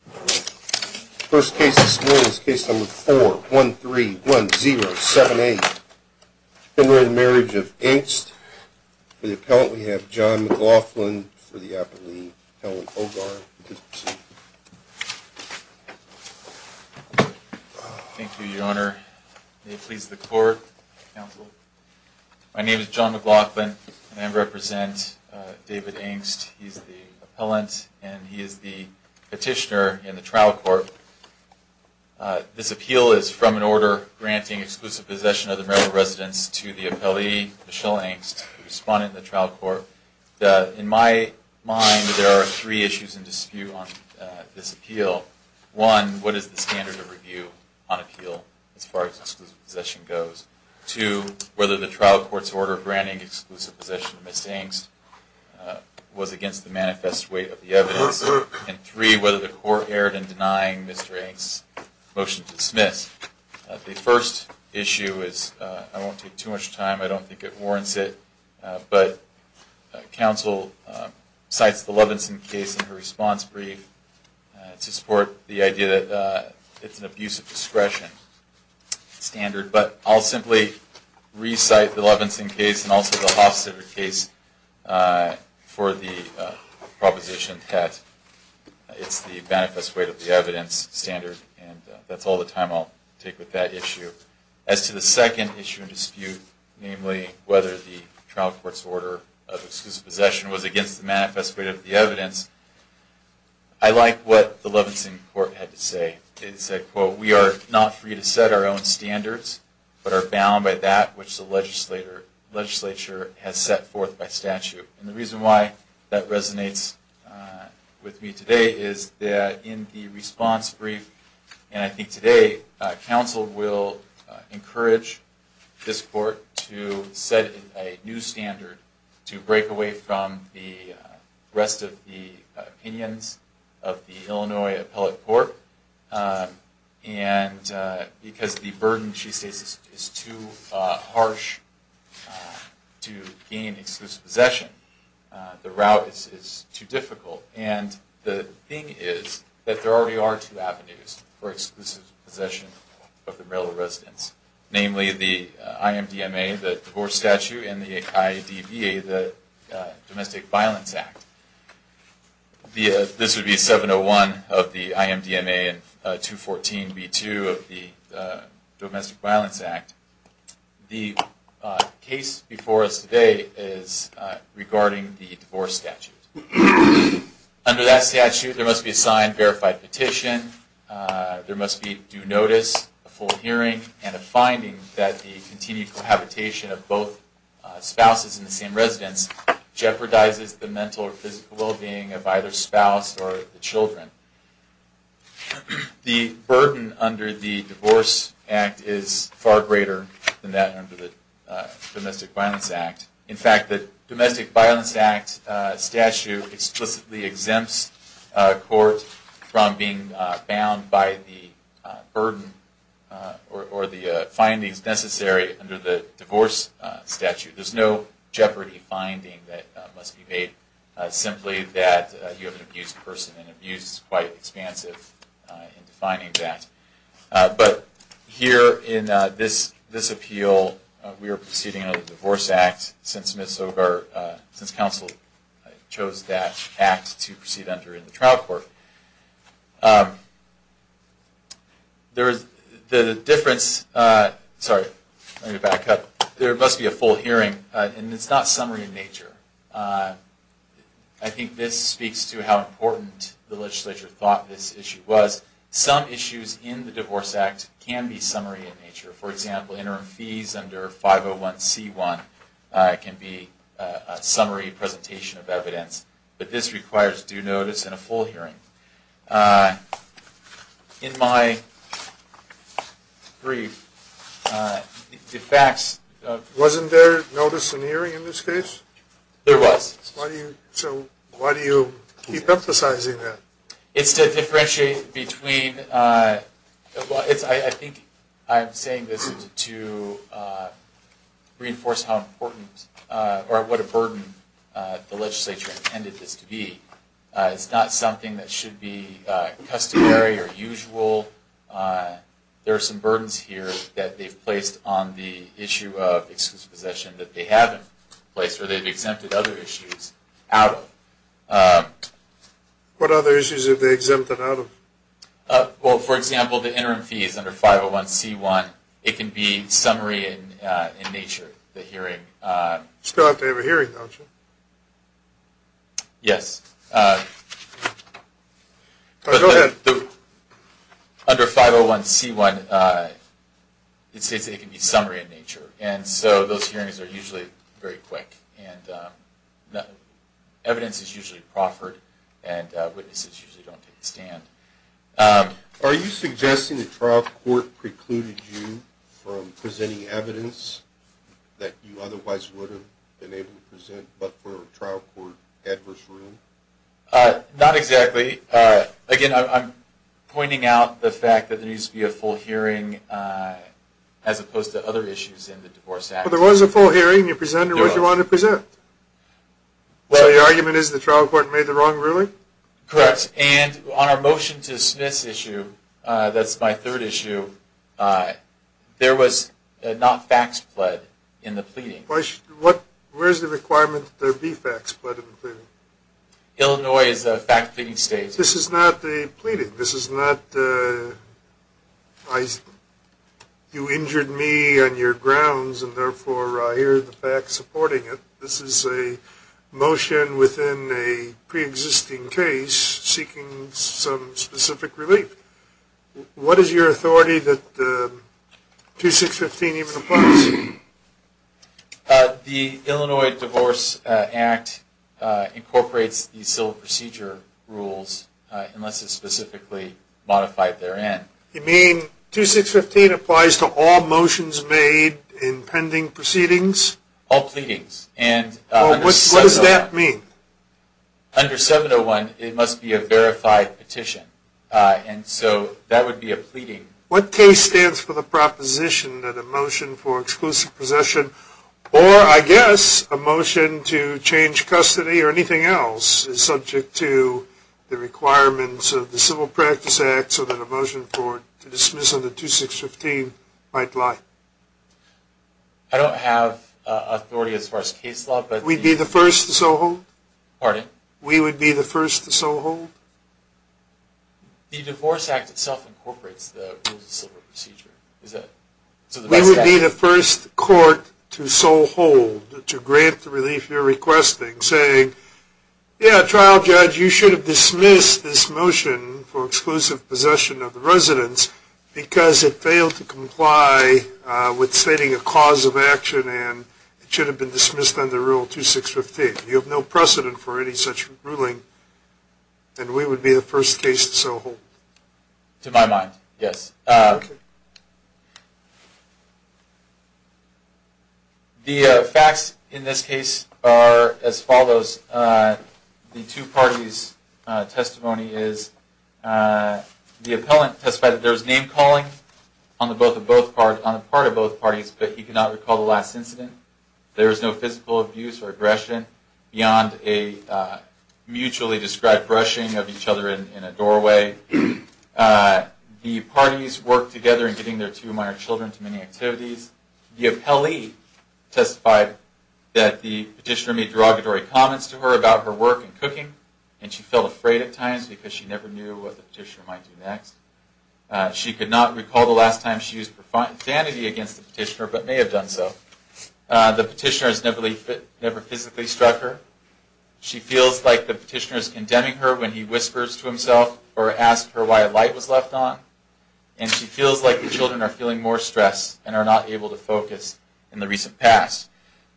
For the Appellant, we have John McLaughlin for the Appellee, Helen Hogarth, please proceed. Thank you, Your Honor. May it please the Court, Counsel. My name is John McLaughlin and I represent David Engst. He is the Appellant and he is the Petitioner in the Trial Court. This appeal is from an order granting exclusive possession of the marital residence to the Appellee, Michelle Engst, the Respondent in the Trial Court. In my mind, there are three issues in dispute on this appeal. One, what is the standard of review on appeal as far as exclusive possession goes? Two, whether the Trial Court's order granting exclusive possession of Ms. Engst was against the manifest weight of the evidence. And three, whether the Court erred in denying Mr. Engst's motion to dismiss. The first issue is, I won't take too much time, I don't think it warrants it, but counsel cites the Lovenson case in her response brief to support the idea that it's an abusive discretion standard. But I'll simply recite the Lovenson case and also the Hofstadter case for the proposition that it's the manifest weight of the evidence standard. And that's all the time I'll take with that issue. As to the second issue in dispute, namely whether the Trial Court's order of exclusive possession was against the manifest weight of the evidence, I like what the Lovenson court had to say. It said, quote, we are not free to set our own standards, but are bound by that which the legislature has set forth by statute. And the reason why that resonates with me today is that in the response brief, and I think today, counsel will encourage this court to set a new standard to break away from the rest of the opinions of the Illinois appellate court. And because the burden, she states, is too harsh to gain exclusive possession, the route is too difficult. And the thing is that there already are two avenues for exclusive possession of the marital residence, namely the IMDMA, the divorce statute, and the IDVA, the Domestic Violence Act. This would be 701 of the IMDMA and 214b2 of the Domestic Violence Act. The case before us today is regarding the divorce statute. Under that statute, there must be a signed verified petition, there must be due notice, a full hearing, and a finding that the continued cohabitation of both spouses in the same residence jeopardizes the mental or physical well-being of either spouse or the children. The burden under the Divorce Act is far greater than that under the Domestic Violence Act. In fact, the Domestic Violence Act statute explicitly exempts a court from being bound by the burden or the findings necessary under the divorce statute. There's no jeopardy finding that must be made, simply that you have an abused person, and abused is quite expansive in defining that. But here in this appeal, we are proceeding under the Divorce Act since counsel chose that act to proceed under in the trial court. There must be a full hearing, and it's not summary in nature. I think this speaks to how important the legislature thought this issue was. Some issues in the Divorce Act can be summary in nature. For example, interim fees under 501c1 can be a summary presentation of evidence. But this requires due notice and a full hearing. In my brief, the facts of... Wasn't there notice and hearing in this case? There was. So why do you keep emphasizing that? It's to differentiate between... I think I'm saying this to reinforce how important or what a burden the legislature intended this to be. It's not something that should be customary or usual. There are some burdens here that they've placed on the issue of exclusive possession that they haven't placed, or they've exempted other issues out of. What other issues have they exempted out of? Well, for example, the interim fees under 501c1, it can be summary in nature, the hearing. Still have to have a hearing, don't you? Yes. Go ahead. Under 501c1, it can be summary in nature. And so those hearings are usually very quick. Evidence is usually proffered, and witnesses usually don't take a stand. Are you suggesting the trial court precluded you from presenting evidence that you otherwise would have been able to present, but for a trial court adverse rule? Not exactly. Again, I'm pointing out the fact that there needs to be a full hearing as opposed to other issues in the Divorce Act. Well, there was a full hearing. You presented what you wanted to present. So your argument is the trial court made the wrong ruling? Correct. And on our motion to dismiss issue, that's my third issue, there was not facts pled in the pleading. Where is the requirement that there be facts pled in the pleading? Illinois is a fact pleading state. This is not the pleading. This is not you injured me on your grounds, and therefore I hear the facts supporting it. This is a motion within a preexisting case seeking some specific relief. What is your authority that 2615 even applies? The Illinois Divorce Act incorporates the civil procedure rules, unless it's specifically modified therein. You mean 2615 applies to all motions made in pending proceedings? All pleadings. What does that mean? Under 701, it must be a verified petition, and so that would be a pleading. What case stands for the proposition that a motion for exclusive possession, or I guess a motion to change custody or anything else, is subject to the requirements of the Civil Practice Act so that a motion to dismiss under 2615 might lie? I don't have authority as far as case law. We'd be the first to so hold? Pardon? We would be the first to so hold? The Divorce Act itself incorporates the rules of civil procedure. We would be the first court to so hold, to grant the relief you're requesting, saying, yeah, trial judge, you should have dismissed this motion for exclusive possession of the residence because it failed to comply with stating a cause of action, and it should have been dismissed under Rule 2615. You have no precedent for any such ruling, and we would be the first case to so hold? To my mind, yes. The facts in this case are as follows. The two parties' testimony is the appellant testified that there was name calling on the part of both parties, but he could not recall the last incident. There was no physical abuse or aggression beyond a mutually described brushing of each other in a doorway. The parties worked together in getting their two minor children to many activities. The appellee testified that the petitioner made derogatory comments to her about her work in cooking, and she felt afraid at times because she never knew what the petitioner might do next. She could not recall the last time she used profanity against the petitioner, but may have done so. The petitioner has never physically struck her. She feels like the petitioner is condemning her when he whispers to himself or asks her why a light was left on, and she feels like the children are feeling more stress and are not able to focus in the recent past.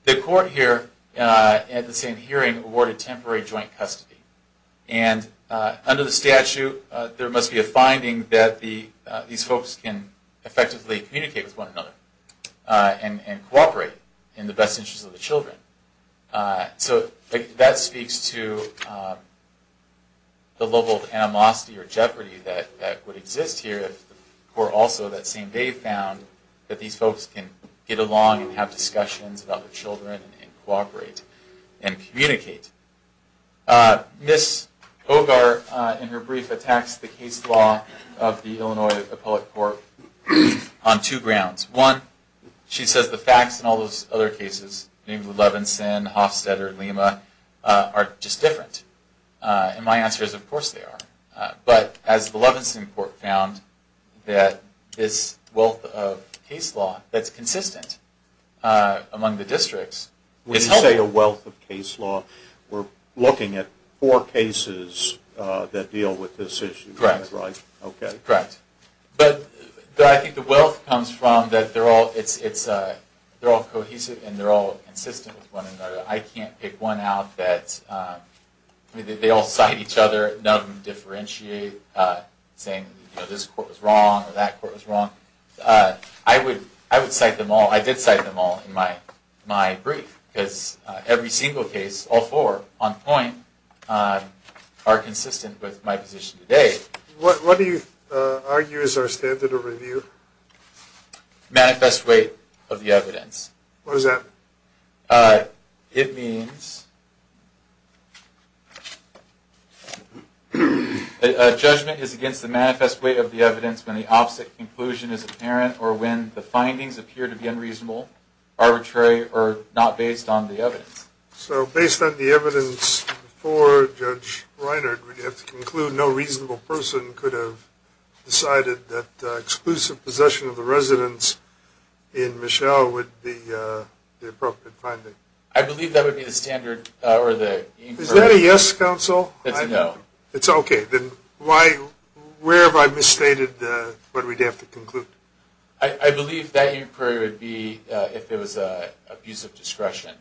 The court here, at the same hearing, awarded temporary joint custody, and under the statute there must be a finding that these folks can effectively communicate with one another and cooperate in the best interest of the children. So that speaks to the level of animosity or jeopardy that would exist here if the court also that same day found that these folks can get along and have discussions about their children and cooperate and communicate. Ms. Hogar, in her brief, attacks the case law of the Illinois Appellate Court on two grounds. One, she says the facts in all those other cases, including Levinson, Hofstetter, Lima, are just different. And my answer is, of course they are. But as the Levinson court found, that this wealth of case law that's consistent among the districts is helpful. When you say a wealth of case law, we're looking at four cases that deal with this issue, right? Correct. Okay. Correct. But I think the wealth comes from that they're all cohesive and they're all consistent with one another. I can't pick one out that they all cite each other, none of them differentiate, saying this court was wrong or that court was wrong. I would cite them all. I did cite them all in my brief because every single case, all four on point, are consistent with my position today. What do you argue is our standard of review? Manifest weight of the evidence. What does that mean? It means a judgment is against the manifest weight of the evidence when the opposite conclusion is apparent or when the findings appear to be unreasonable, arbitrary, or not based on the evidence. So based on the evidence before Judge Reinert, no reasonable person could have decided that exclusive possession of the residence in Michelle would be the appropriate finding? I believe that would be the standard or the inquiry. Is that a yes, counsel? It's a no. It's okay. Then where have I misstated what we'd have to conclude? I believe that inquiry would be if it was an abuse of discretion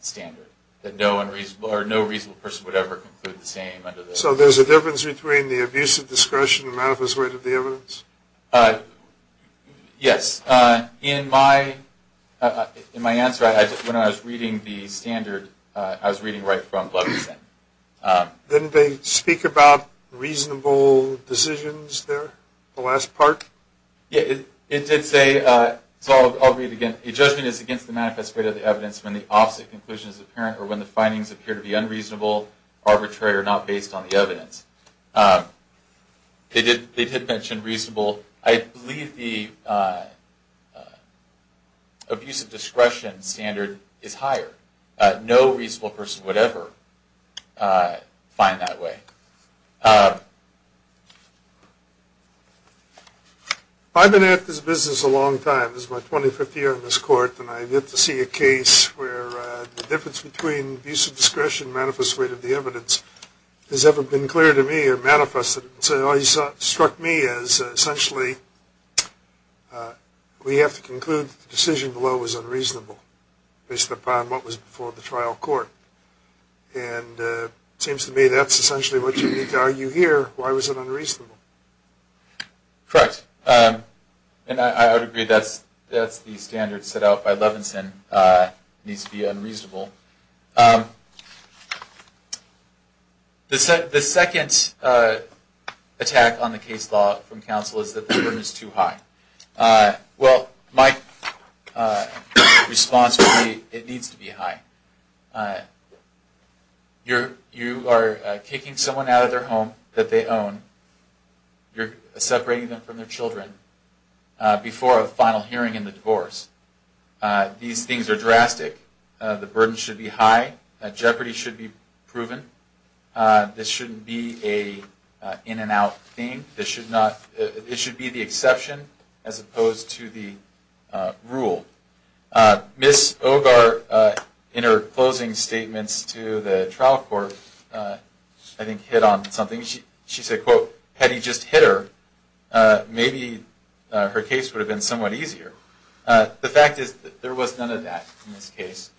standard, that no reasonable person would ever conclude the same. So there's a difference between the abuse of discretion and manifest weight of the evidence? Yes. In my answer, when I was reading the standard, I was reading right from Blevinson. Didn't they speak about reasonable decisions there, the last part? It did say, so I'll read again, judgment is against the manifest weight of the evidence when the opposite conclusion is apparent or when the findings appear to be unreasonable, arbitrary, or not based on the evidence. They did mention reasonable. I believe the abuse of discretion standard is higher. No reasonable person would ever find that way. I've been at this business a long time. This is my 25th year in this court, and I get to see a case where the difference between abuse of discretion and manifest weight of the evidence has never been clear to me or manifested. So it struck me as essentially we have to conclude the decision below was unreasonable based upon what was before the trial court. And it seems to me that's essentially what you need to argue here. Why was it unreasonable? Correct. And I would agree that's the standard set out by Blevinson. It needs to be unreasonable. The second attack on the case law from counsel is that the burden is too high. Well, my response would be it needs to be high. You are kicking someone out of their home that they own. You're separating them from their children before a final hearing in the divorce. These things are drastic. The burden should be high. Jeopardy should be proven. This shouldn't be an in-and-out thing. It should be the exception as opposed to the rule. Ms. Ogar, in her closing statements to the trial court, I think hit on something. She said, quote, had he just hit her, maybe her case would have been somewhat easier. The fact is that there was none of that in this case.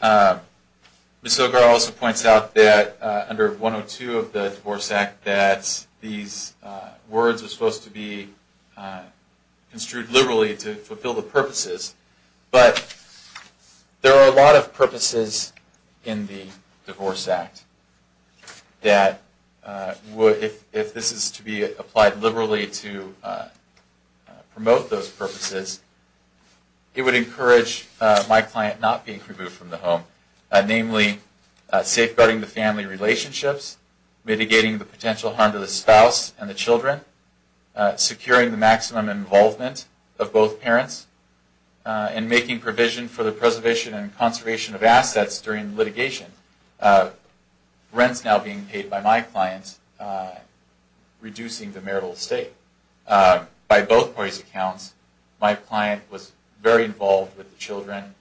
Ms. Ogar also points out that under 102 of the Divorce Act, that these words are supposed to be construed liberally to fulfill the purposes. But there are a lot of purposes in the Divorce Act that, if this is to be applied liberally to promote those purposes, it would encourage my client not being removed from the home. Namely, safeguarding the family relationships, mitigating the potential harm to the spouse and the children, securing the maximum involvement of both parents, and making provision for the preservation and conservation of assets during litigation. Rents now being paid by my clients, reducing the marital estate. By both parties' accounts, my client was very involved with the children,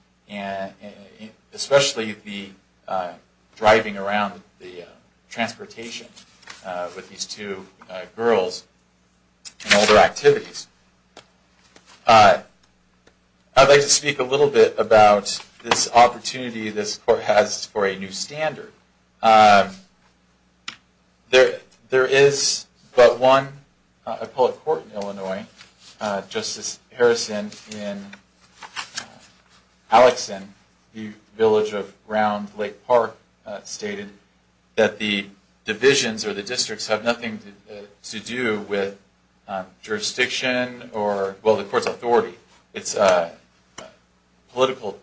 especially the driving around the transportation with these two girls and all their activities. I'd like to speak a little bit about this opportunity this court has for a new standard. There is but one appellate court in Illinois, and Justice Harrison in Alexan, the village of Round Lake Park, stated that the divisions or the districts have nothing to do with jurisdiction or, well, the court's authority. It's political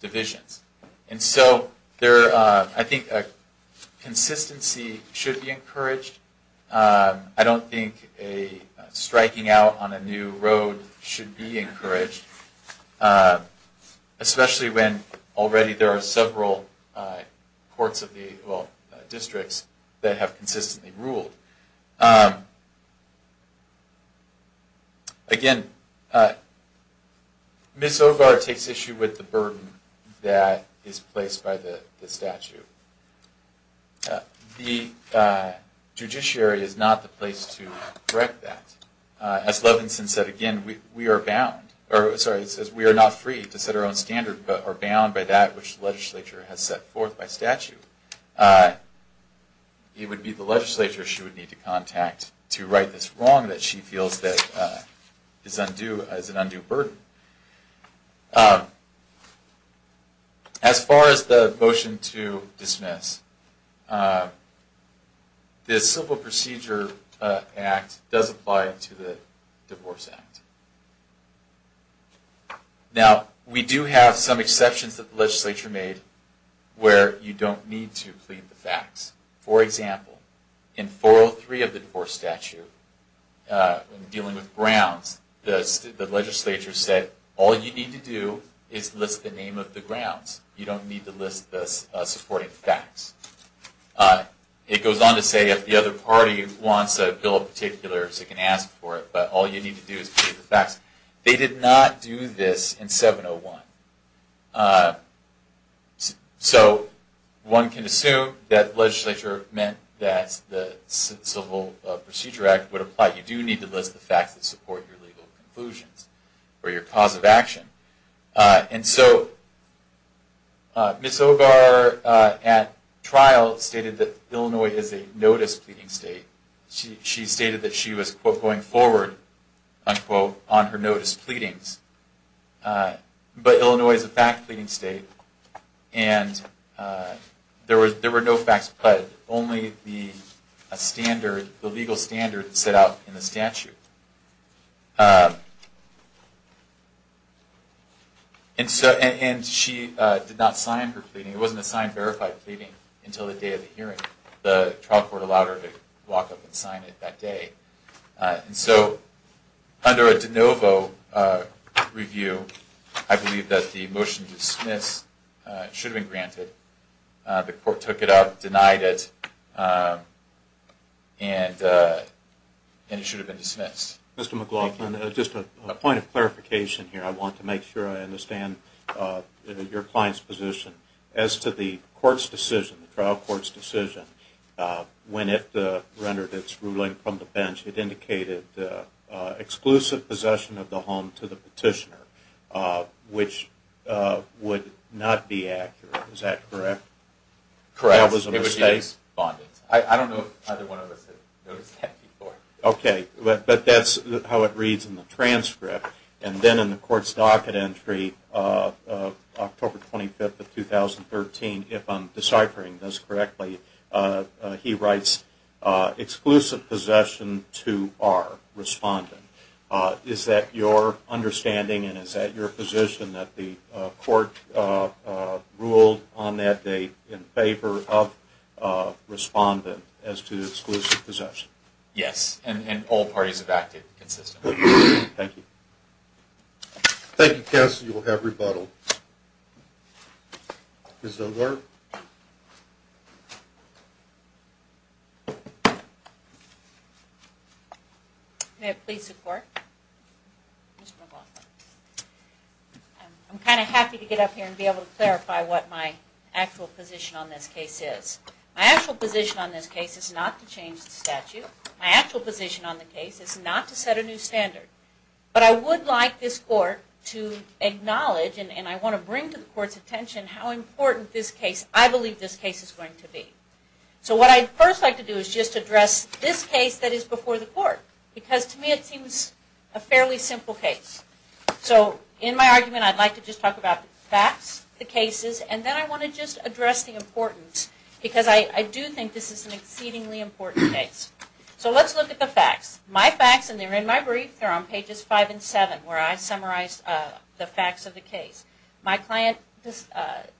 divisions. And so I think a consistency should be encouraged. I don't think a striking out on a new road should be encouraged, especially when already there are several courts of the, well, districts that have consistently ruled. Again, Ms. Ovar takes issue with the burden that is placed by the statute. The judiciary is not the place to correct that. As Levinson said again, we are not free to set our own standard, but are bound by that which the legislature has set forth by statute. It would be the legislature she would need to contact to right this wrong that she feels is an undue burden. As far as the motion to dismiss, the Civil Procedure Act does apply to the Divorce Act. Now, we do have some exceptions that the legislature made where you don't need to plead the facts. For example, in 403 of the Divorce Statute, dealing with Browns, the legislature said all you need to do is list the name of the Browns. You don't need to list the supporting facts. It goes on to say if the other party wants a bill of particulars, they can ask for it, but all you need to do is plead the facts. They did not do this in 701. So one can assume that the legislature meant that the Civil Procedure Act would apply. You do need to list the facts that support your legal conclusions or your cause of action. Ms. Ogar at trial stated that Illinois is a notice pleading state. She stated that she was going forward on her notice pleadings, but Illinois is a fact pleading state and there were no facts pled. Only the legal standard set out in the statute. And she did not sign her pleading. It wasn't a signed verified pleading until the day of the hearing. The trial court allowed her to walk up and sign it that day. So under a de novo review, I believe that the motion to dismiss should have been granted. The court took it up, denied it, and it should have been dismissed. Mr. McLaughlin, just a point of clarification here. I want to make sure I understand your client's position as to the trial court's decision when it rendered its ruling from the bench. It indicated exclusive possession of the home to the petitioner, which would not be accurate. Is that correct? I don't know if either one of us has noticed that before. But that's how it reads in the transcript. And then in the court's docket entry, October 25, 2013, if I'm deciphering this correctly, he writes, exclusive possession to our respondent. Is that your understanding and is that your position that the court ruled on that date in favor of respondent as to exclusive possession? Yes, and all parties have acted consistently. Thank you. Thank you, counsel. You will have rebuttal. Ms. O'Rourke. May I please support? I'm kind of happy to get up here and be able to clarify what my actual position on this case is. My actual position on this case is not to change the statute. My actual position on the case is not to set a new standard. But I would like this court to acknowledge, and I want to bring to the court's attention, how important I believe this case is going to be. So what I'd first like to do is just address this case that is before the court, because to me it seems a fairly simple case. So in my argument I'd like to just talk about the facts, the cases, and then I want to just address the importance, because I do think this is an exceedingly important case. So let's look at the facts. My facts, and they're in my brief, they're on pages 5 and 7, where I summarize the facts of the case. My client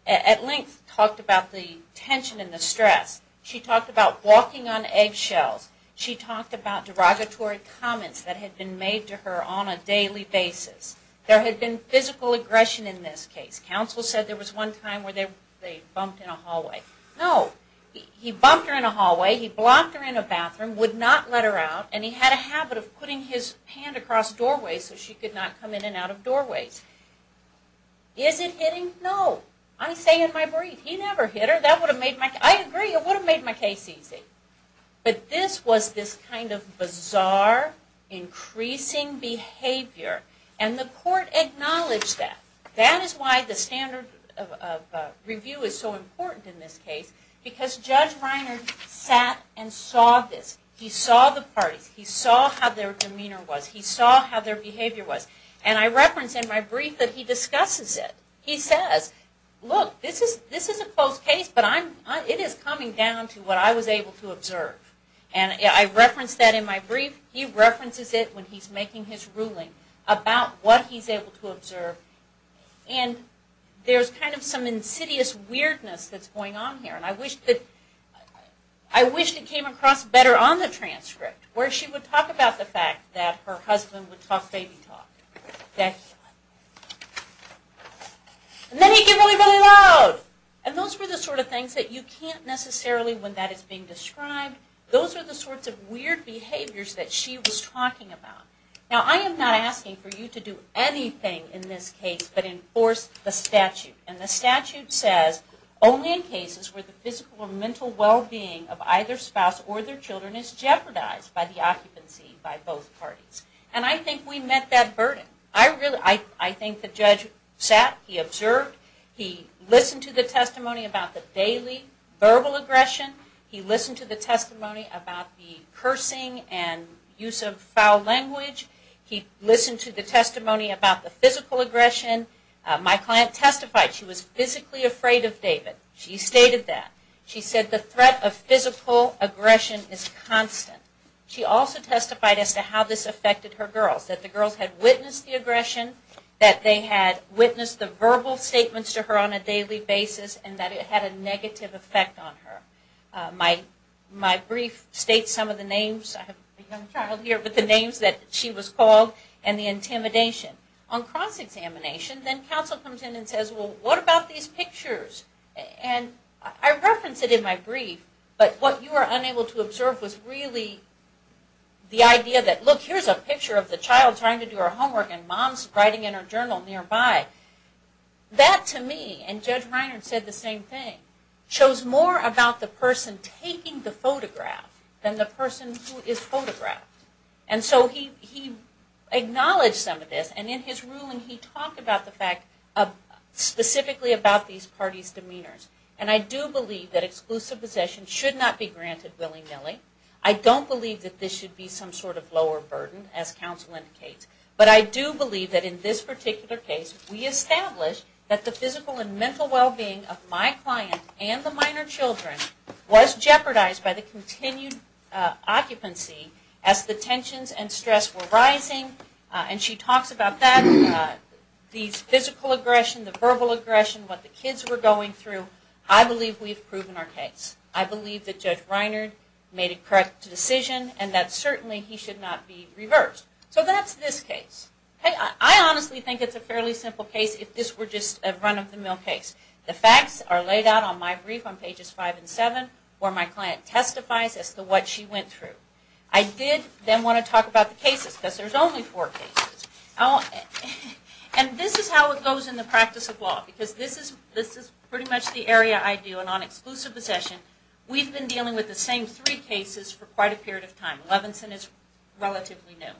at length talked about the tension and the stress. She talked about walking on eggshells. She talked about derogatory comments that had been made to her on a daily basis. There had been physical aggression in this case. Counsel said there was one time where they bumped in a hallway. No. He bumped her in a hallway, he blocked her in a bathroom, would not let her out, and he had a habit of putting his hand across doorways so she could not come in and out of doorways. Is it hitting? No. I say in my brief. He never hit her. I agree, it would have made my case easy. But this was this kind of bizarre, increasing behavior. And the court acknowledged that. That is why the standard of review is so important in this case. Because Judge Reiner sat and saw this. He saw the parties. He saw how their demeanor was. He saw how their behavior was. And I reference in my brief that he discusses it. He says, look, this is a close case, but it is coming down to what I was able to observe. And I reference that in my brief. He references it when he is making his ruling about what he is able to observe. And there is kind of some insidious weirdness that is going on here. And I wish it came across better on the transcript. Where she would talk about the fact that her husband would talk baby talk. And then he'd get really, really loud. And those were the sort of things that you can't necessarily when that is being described. Those are the sorts of weird behaviors that she was talking about. Now I am not asking for you to do anything in this case but enforce the statute. And the statute says only in cases where the physical or mental well-being of either spouse or their children is jeopardized by the occupancy by both parties. And I think we met that burden. I think the judge sat. He observed. He listened to the testimony about the daily verbal aggression. He listened to the testimony about the cursing and use of foul language. He listened to the testimony about the physical aggression. My client testified she was physically afraid of David. She stated that. She said the threat of physical aggression is constant. She also testified as to how this affected her girls. That the girls had witnessed the aggression. That they had witnessed the verbal statements to her on a daily basis. And that it had a negative effect on her. My brief states some of the names. I have a young child here. But the names that she was called and the intimidation. On cross-examination then counsel comes in and says well what about these pictures? And I reference it in my brief but what you were unable to observe was really the idea that look here is a picture of the child trying to do her homework and mom is writing in her journal nearby. That to me, and Judge Reiner said the same thing, shows more about the person taking the photograph. Than the person who is photographed. And so he acknowledged some of this and in his ruling he talked about the fact of specifically about these parties' demeanors. And I do believe that exclusive possession should not be granted willy-nilly. I don't believe that this should be some sort of lower burden as counsel indicates. But I do believe that in this particular case we established that the physical and mental well-being of my client and the minor children was jeopardized by the continued occupancy as the tensions and stress were rising. And she talks about that. These physical aggression, the verbal aggression, what the kids were going through. I believe we've proven our case. I believe that Judge Reiner made a correct decision. And that certainly he should not be reversed. So that's this case. I honestly think it's a fairly simple case if this were just a run of the mill case. The facts are laid out on my brief on pages 5 and 7 where my client testifies as to what she went through. I did then want to talk about the cases because there's only four cases. And this is how it goes in the practice of law because this is pretty much the area I deal in on exclusive possession. We've been dealing with the same three cases for quite a period of time. Levinson is relatively new.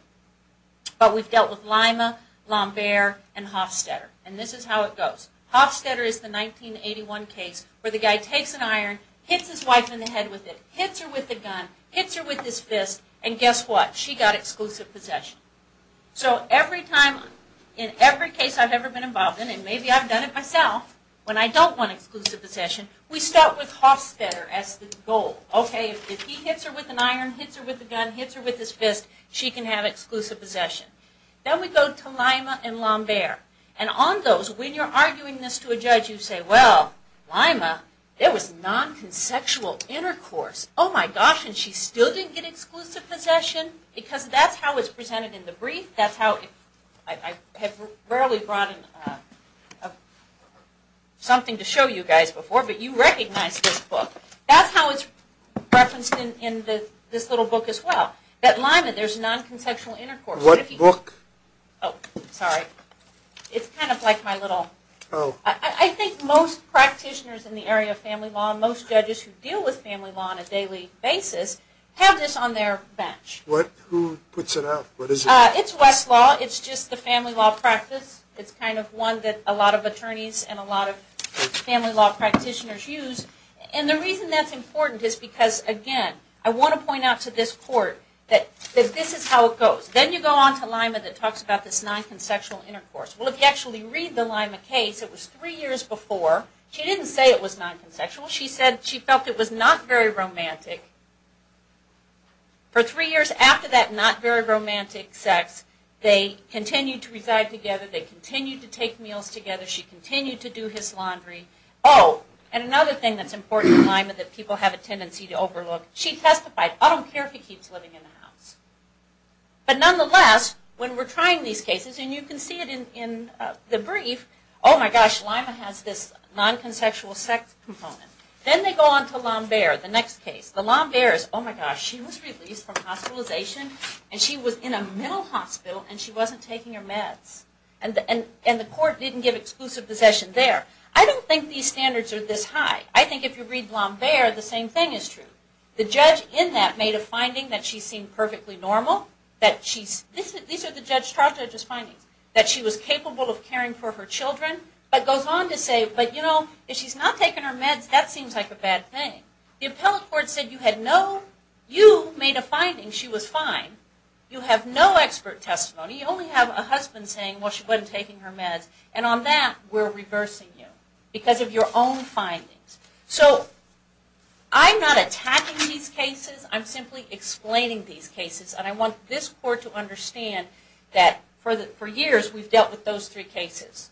But we've dealt with Lima, Lambert, and Hofstetter. And this is how it goes. Hofstetter is the 1981 case where the guy takes an iron, hits his wife in the head with it, hits her with a gun, hits her with his fist, and guess what? She got exclusive possession. So every time, in every case I've ever been involved in, and maybe I've done it myself when I don't want exclusive possession, we start with Hofstetter as the goal. Okay, if he hits her with an iron, hits her with a gun, hits her with his fist, she can have exclusive possession. Then we go to Lima and Lambert. And on those, when you're arguing this to a judge, you say, well, Lima, there was non-consexual intercourse. Oh my gosh, and she still didn't get exclusive possession? Because that's how it's presented in the brief. That's how, I have rarely brought something to show you guys before, but you recognize this book. That's how it's referenced in this little book as well. That Lima, there's non-consexual intercourse. What book? Oh, sorry. It's kind of like my little, I think most practitioners in the area of family law, most judges who deal with family law on a daily basis, have this on their bench. What? Who puts it out? What is it? It's Westlaw. It's just the family law practice. It's kind of one that a lot of attorneys and a lot of family law practitioners use. And the reason that's important is because, again, I want to point out to this court that this is how it goes. Then you go on to Lima that talks about this non-consexual intercourse. Well, if you actually read the Lima case, it was three years before. She didn't say it was non-consexual. She said she felt it was not very romantic. For three years after that not very romantic sex, they continued to reside together. They continued to take meals together. She continued to do his laundry. Oh, and another thing that's important in Lima that people have a tendency to overlook, she testified, I don't care if he keeps living in the house. But nonetheless, when we're trying these cases, and you can see it in the brief, oh my gosh, Lima has this non-consexual sex component. Then they go on to Lambert, the next case. The Lambert is, oh my gosh, she was released from hospitalization, and she was in a mental hospital, and she wasn't taking her meds. And the court didn't give exclusive possession there. I don't think these standards are this high. I think if you read Lambert, the same thing is true. The judge in that made a finding that she seemed perfectly normal. These are the judge's findings, that she was capable of caring for her children, but goes on to say, but you know, if she's not taking her meds, that seems like a bad thing. The appellate court said you had no, you made a finding, she was fine. You have no expert testimony. You only have a husband saying, well, she wasn't taking her meds. And on that, we're reversing you, because of your own findings. So, I'm not attacking these cases. I'm simply explaining these cases. And I want this court to understand that for years, we've dealt with those three cases.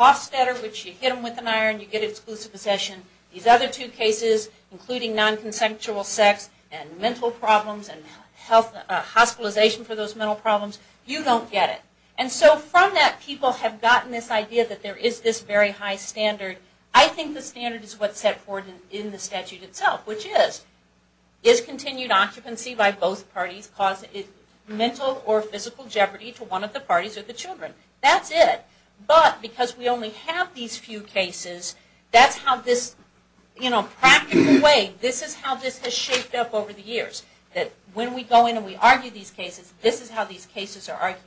Hofstetter, which you hit them with an iron, you get exclusive possession. These other two cases, including non-consensual sex, and mental problems, and hospitalization for those mental problems, you don't get it. And so, from that, people have gotten this idea that there is this very high standard. I think the standard is what's set forth in the statute itself, which is, is continued occupancy by both parties causing mental or physical jeopardy to one of the parties or the children? That's it. But, because we only have these few cases, that's how this, you know, practical way, this is how this has shaped up over the years. When we go in and we argue these cases, this is how these cases are argued.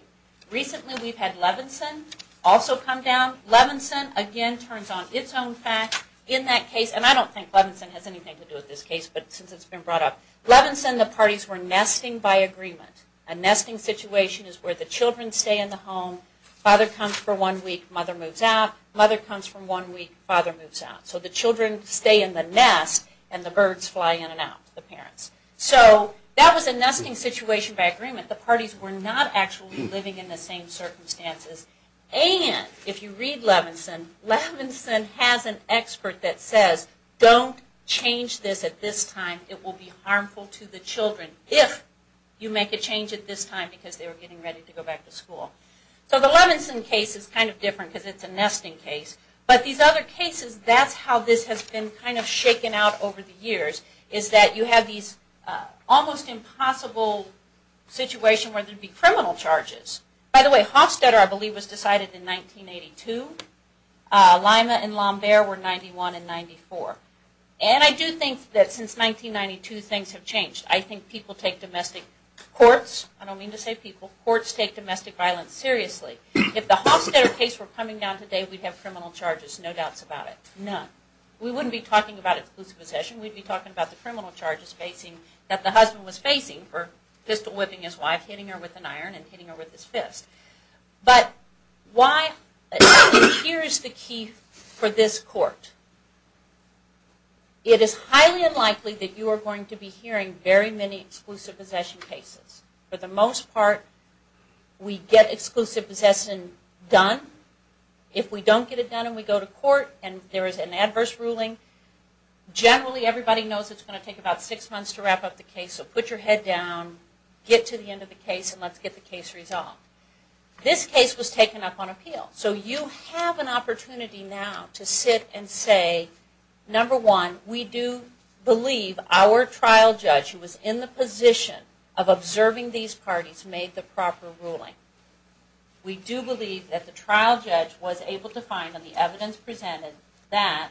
Recently, we've had Levinson also come down. Levinson, again, turns on its own fact. In that case, and I don't think Levinson has anything to do with this case, but since it's been brought up. Levinson, the parties were nesting by agreement. A nesting situation is where the children stay in the home, father comes for one week, mother moves out. Mother comes for one week, father moves out. So, the children stay in the nest, and the birds fly in and out, the parents. So, that was a nesting situation by agreement. The parties were not actually living in the same circumstances. And, if you read Levinson, Levinson has an expert that says, don't change this at this time. It will be harmful to the children if you make a change at this time because they were getting ready to go back to school. So, the Levinson case is kind of different because it's a nesting case. But, these other cases, that's how this has been kind of shaken out over the years, is that you have these almost impossible situations where there would be criminal charges. By the way, Hofstetter, I believe, was decided in 1982. Lima and Lambert were in 91 and 94. And, I do think that since 1992, things have changed. I think people take domestic, courts, I don't mean to say people, courts take domestic violence seriously. If the Hofstetter case were coming down today, we'd have criminal charges, no doubts about it. None. We wouldn't be talking about exclusive possession. We'd be talking about the criminal charges facing, that the husband was facing for pistol whipping his wife, hitting her with an iron, and hitting her with his fist. But, why? Here's the key for this court. It is highly unlikely that you are going to be hearing very many We get exclusive possession done. If we don't get it done and we go to court and there is an adverse ruling, generally everybody knows it's going to take about six months to wrap up the case. So, put your head down, get to the end of the case, and let's get the case resolved. This case was taken up on appeal. So, you have an opportunity now to sit and say, number one, we do believe our trial judge, who was in the position of observing these parties, made the proper ruling. We do believe that the trial judge was able to find, and the evidence presented, that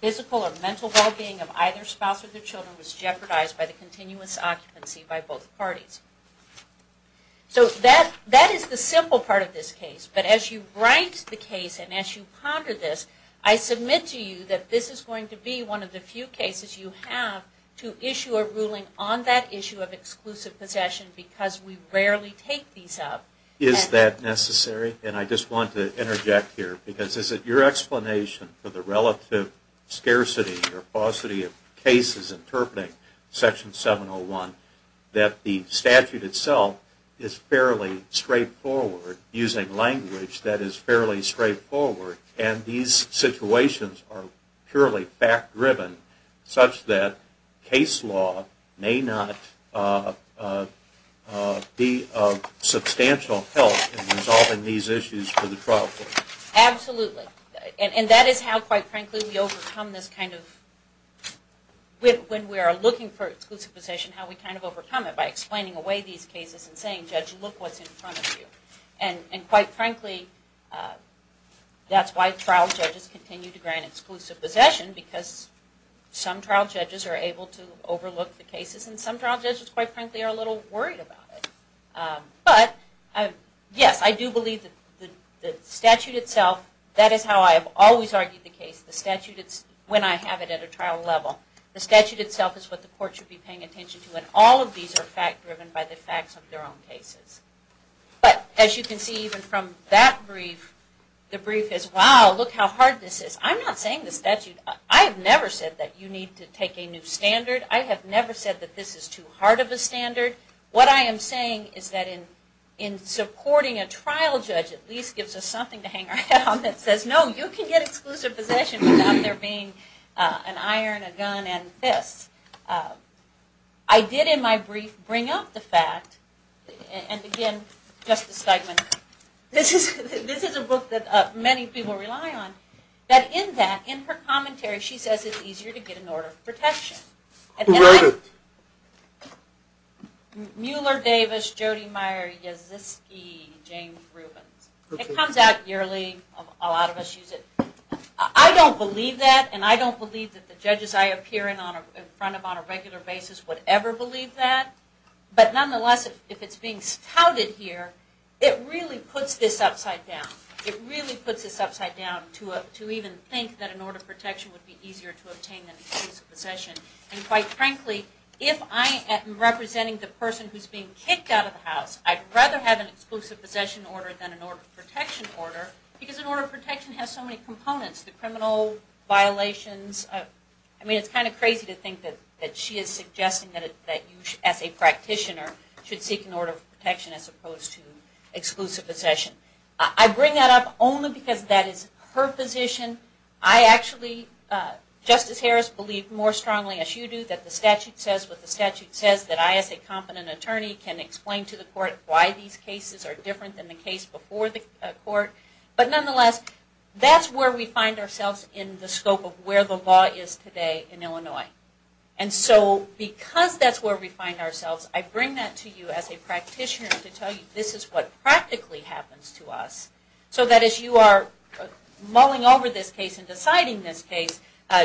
physical or mental well-being of either spouse or their children was jeopardized by the continuous occupancy by both parties. So, that is the simple part of this case. But, as you write the case and as you ponder this, I submit to you that this is going to be one of the few cases you have to issue a ruling on that issue of exclusive possession because we rarely take these up. Is that necessary? And I just want to interject here, because is it your explanation for the relative scarcity or paucity of cases interpreting Section 701 that the statute itself is fairly straightforward, using language that may not be of substantial help in resolving these issues for the trial court? Absolutely. And that is how, quite frankly, we overcome this kind of, when we are looking for exclusive possession, how we kind of overcome it, by explaining away these cases and saying, judge, look what's in front of you. And quite frankly, that's why trial judges continue to grant exclusive possession, because some trial judges, quite frankly, are a little worried about it. But, yes, I do believe that the statute itself, that is how I have always argued the case. The statute, when I have it at a trial level, the statute itself is what the court should be paying attention to. And all of these are fact-driven by the facts of their own cases. But, as you can see, even from that brief, the brief is, wow, look how hard this is. I'm not saying the statute, I have never said that you need to take a new standard. I have never said that this is too hard of a standard. What I am saying is that in supporting a trial judge at least gives us something to hang around that says, no, you can get exclusive possession without there being an iron, a gun, and fists. I did, in my brief, bring up the fact, and again, Justice Steigman, this is a book that many people rely on, that in her commentary she says it's easier to get an order of protection. Who wrote it? Mueller Davis, Jody Meyer, Yaziski, James Rubens. It comes out yearly, a lot of us use it. I don't believe that, and I don't believe that the judges I appear in front of on a regular basis would ever believe that. But, nonetheless, if this upside down, it really puts this upside down to even think that an order of protection would be easier to obtain than an exclusive possession. And quite frankly, if I am representing the person who is being kicked out of the house, I'd rather have an exclusive possession order than an order of protection order, because an order of protection has so many components, the criminal violations. I mean, it's kind of crazy to think that she is should seek an order of protection as opposed to exclusive possession. I bring that up only because that is her position. I actually, Justice Harris, believe more strongly as you do that the statute says what the statute says, that I as a competent attorney can explain to the court why these cases are different than the case before the court. But nonetheless, that's where we find ourselves in the scope of where the law is today in Illinois. And so, because that's where we find ourselves, I bring that to you as a practitioner to tell you this is what practically happens to us. So that as you are mulling over this case and deciding this case,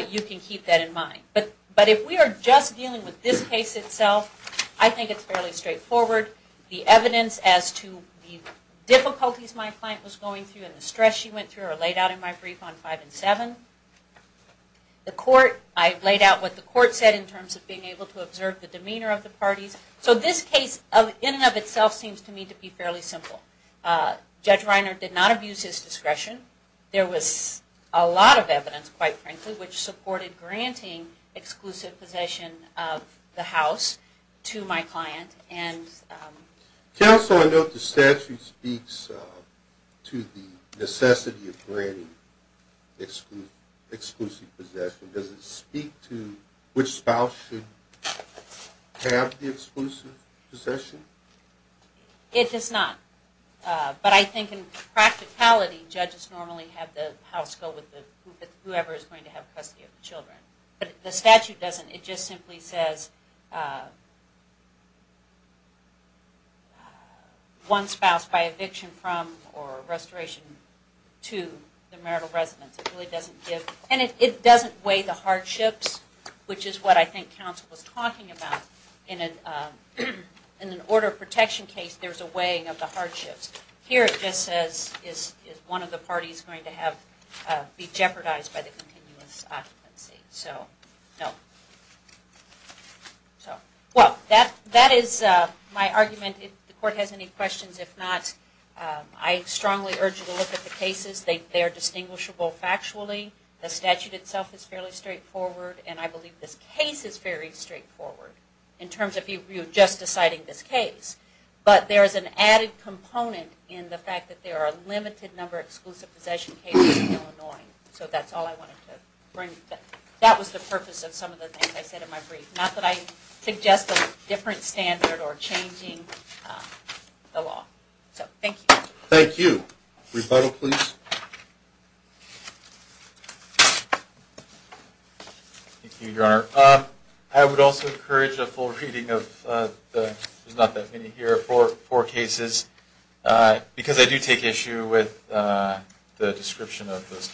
you can keep that in mind. But if we are just dealing with this case itself, I think it's fairly straightforward. The evidence as to the difficulties my client was going through and the stress she went through are laid out in my brief on 5 and 7. The court, I've laid out what the court said in terms of being able to observe the demeanor of the parties. So this case in and of itself seems to me to be fairly simple. Judge Reiner did not abuse his discretion. There was a lot of evidence, quite frankly, which supported granting exclusive possession of the house to my client. Counsel, I note the statute speaks to the necessity of granting exclusive possession. Does it speak to which spouse should have the exclusive possession? It does not. But I think in practicality, judges normally have the house go with whoever is going to have custody of the one spouse by eviction from or restoration to the marital residence. And it doesn't weigh the hardships, which is what I think counsel was talking about. In an order of protection case, there's a weighing of the hardships. Here it just says is one of the My argument, if the court has any questions, if not, I strongly urge you to look at the cases. They are distinguishable factually. The statute itself is fairly straightforward. And I believe this case is very straightforward in terms of you just deciding this case. But there is an added component in the fact that there are a limited number of exclusive possession cases in change of law. Thank you. Rebuttal, please? Thank you, Your Honor. I would also encourage a full reading of the four cases, because I do take issue with the description of those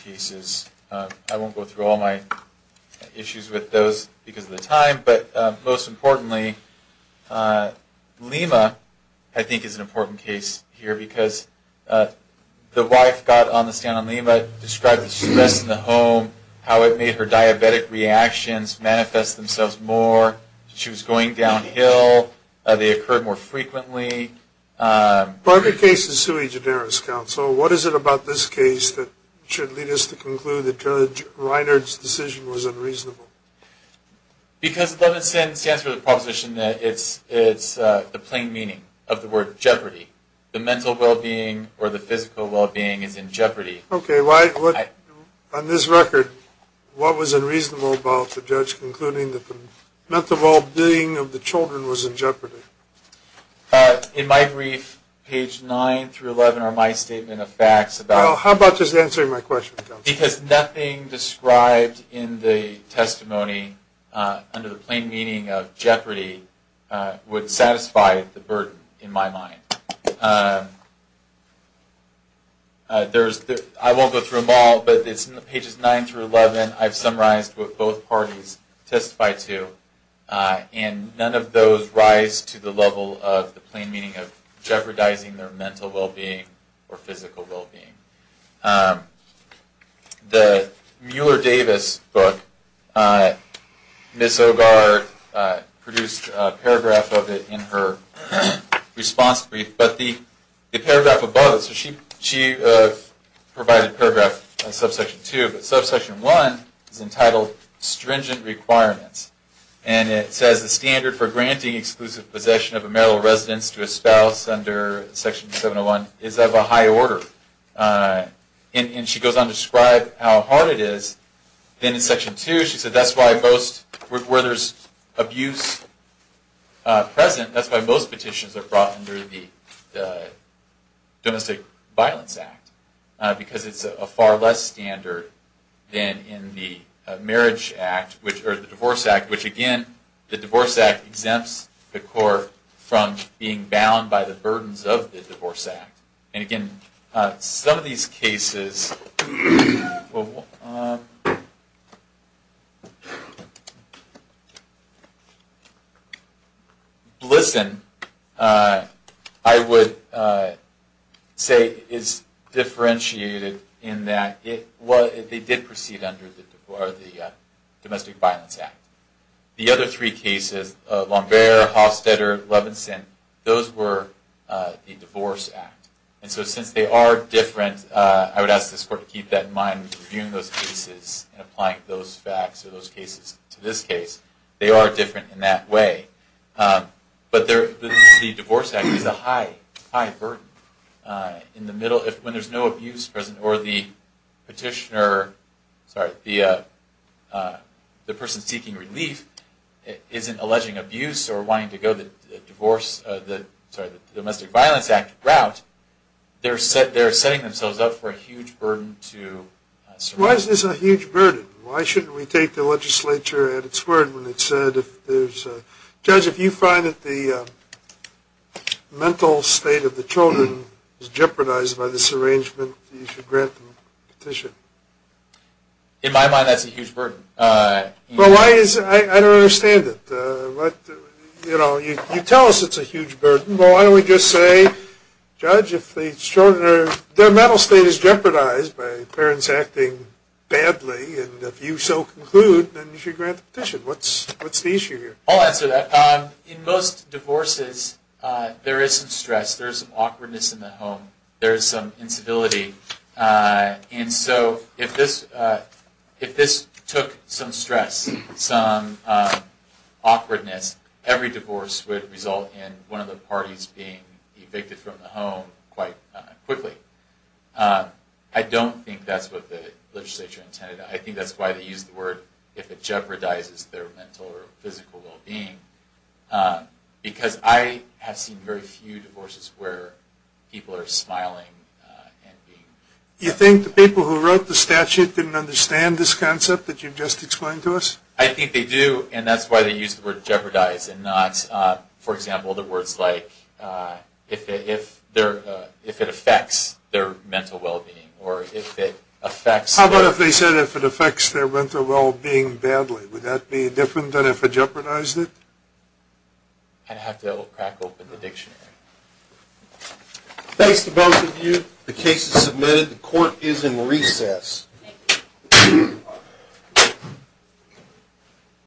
Lima, I think, is an important case here, because the wife got on the stand on Lima, described the stress in the home, how it made her diabetic reactions manifest themselves more, she was going downhill, they occurred more frequently. Part of your case is sui generis, counsel. What is it about this case that should lead us to conclude that Judge Reinhardt's decision was unreasonable? Because 11 cents stands for the proposition that it's the plain meaning of the word jeopardy. The mental well-being or the physical well-being is in jeopardy. Okay. On this record, what was unreasonable about the judge concluding that the mental well-being of the children was in jeopardy? In my brief, page 9 through 11 are my statement of facts. Well, how about just answering my question, counsel? Because nothing described in the testimony under the plain meaning of jeopardy would satisfy the burden in my mind. I won't go through them all, but it's in pages 9 through 11 I've summarized what both parties testified to, and none of those rise to the same conclusion. The Mueller-Davis book, Ms. Ogar produced a paragraph of it in her response brief, but the paragraph above, she provided a paragraph on subsection 2, but subsection 1 is entitled Stringent Requirements, and it says the standard for granting exclusive possession of a marital residence to a spouse under section 701 is of a high order. And she goes on to describe how hard it is, then in section 2 she said that's why most, where there's abuse present, that's why most petitions are brought under the Domestic Violence Act, because it's a far less standard than in the Marriage Act, or the Divorce Act, which again, the Divorce Act exempts the court from being bound by the burdens of the Divorce Act. And again, some of these cases, listen, I would say is differentiated in that they did proceed under the Domestic Violence Act. The other three cases, Lambert, Hofstetter, Levinson, those were the Divorce Act. And so since they are different, I would ask this court to keep that in mind when reviewing those cases and applying those facts or those cases to this case. They are different in that way. But the Divorce Act is a high burden. In the middle, when there's no abuse present, or the petitioner, sorry, the person seeking relief isn't alleging abuse or wanting to go the Divorce, sorry, the Domestic Violence Act route, they're setting themselves up for a huge burden to survive. Why is this a huge burden? Why shouldn't we take the legislature at its word when it said if there's, Judge, if you find that the person is jeopardized by this arrangement, you should grant them a petition? In my mind, that's a huge burden. Well, I don't understand it. You tell us it's a huge burden. Well, why don't we just say, Judge, if their mental state is jeopardized by parents acting badly, and if you so conclude, then you should grant the petition. What's the issue here? I'll answer that. In most divorces, there is some stress. There is some awkwardness in the home. There is some incivility. And so, if this took some stress, some awkwardness, every divorce would result in one of the parties being evicted from the home quite quickly. I don't think that's what the legislature intended. I think that's why they used the word, if it jeopardizes their mental or physical well-being, because I have seen very few divorces where people are smiling. You think the people who wrote the statute didn't understand this concept that you've just explained to us? I think they do, and that's why they used the word jeopardize, and not, for example, the words like, if it affects their mental well-being, or if it affects their... I'd have to crack open the dictionary. Thanks to both of you. The case is submitted. The court is in recess.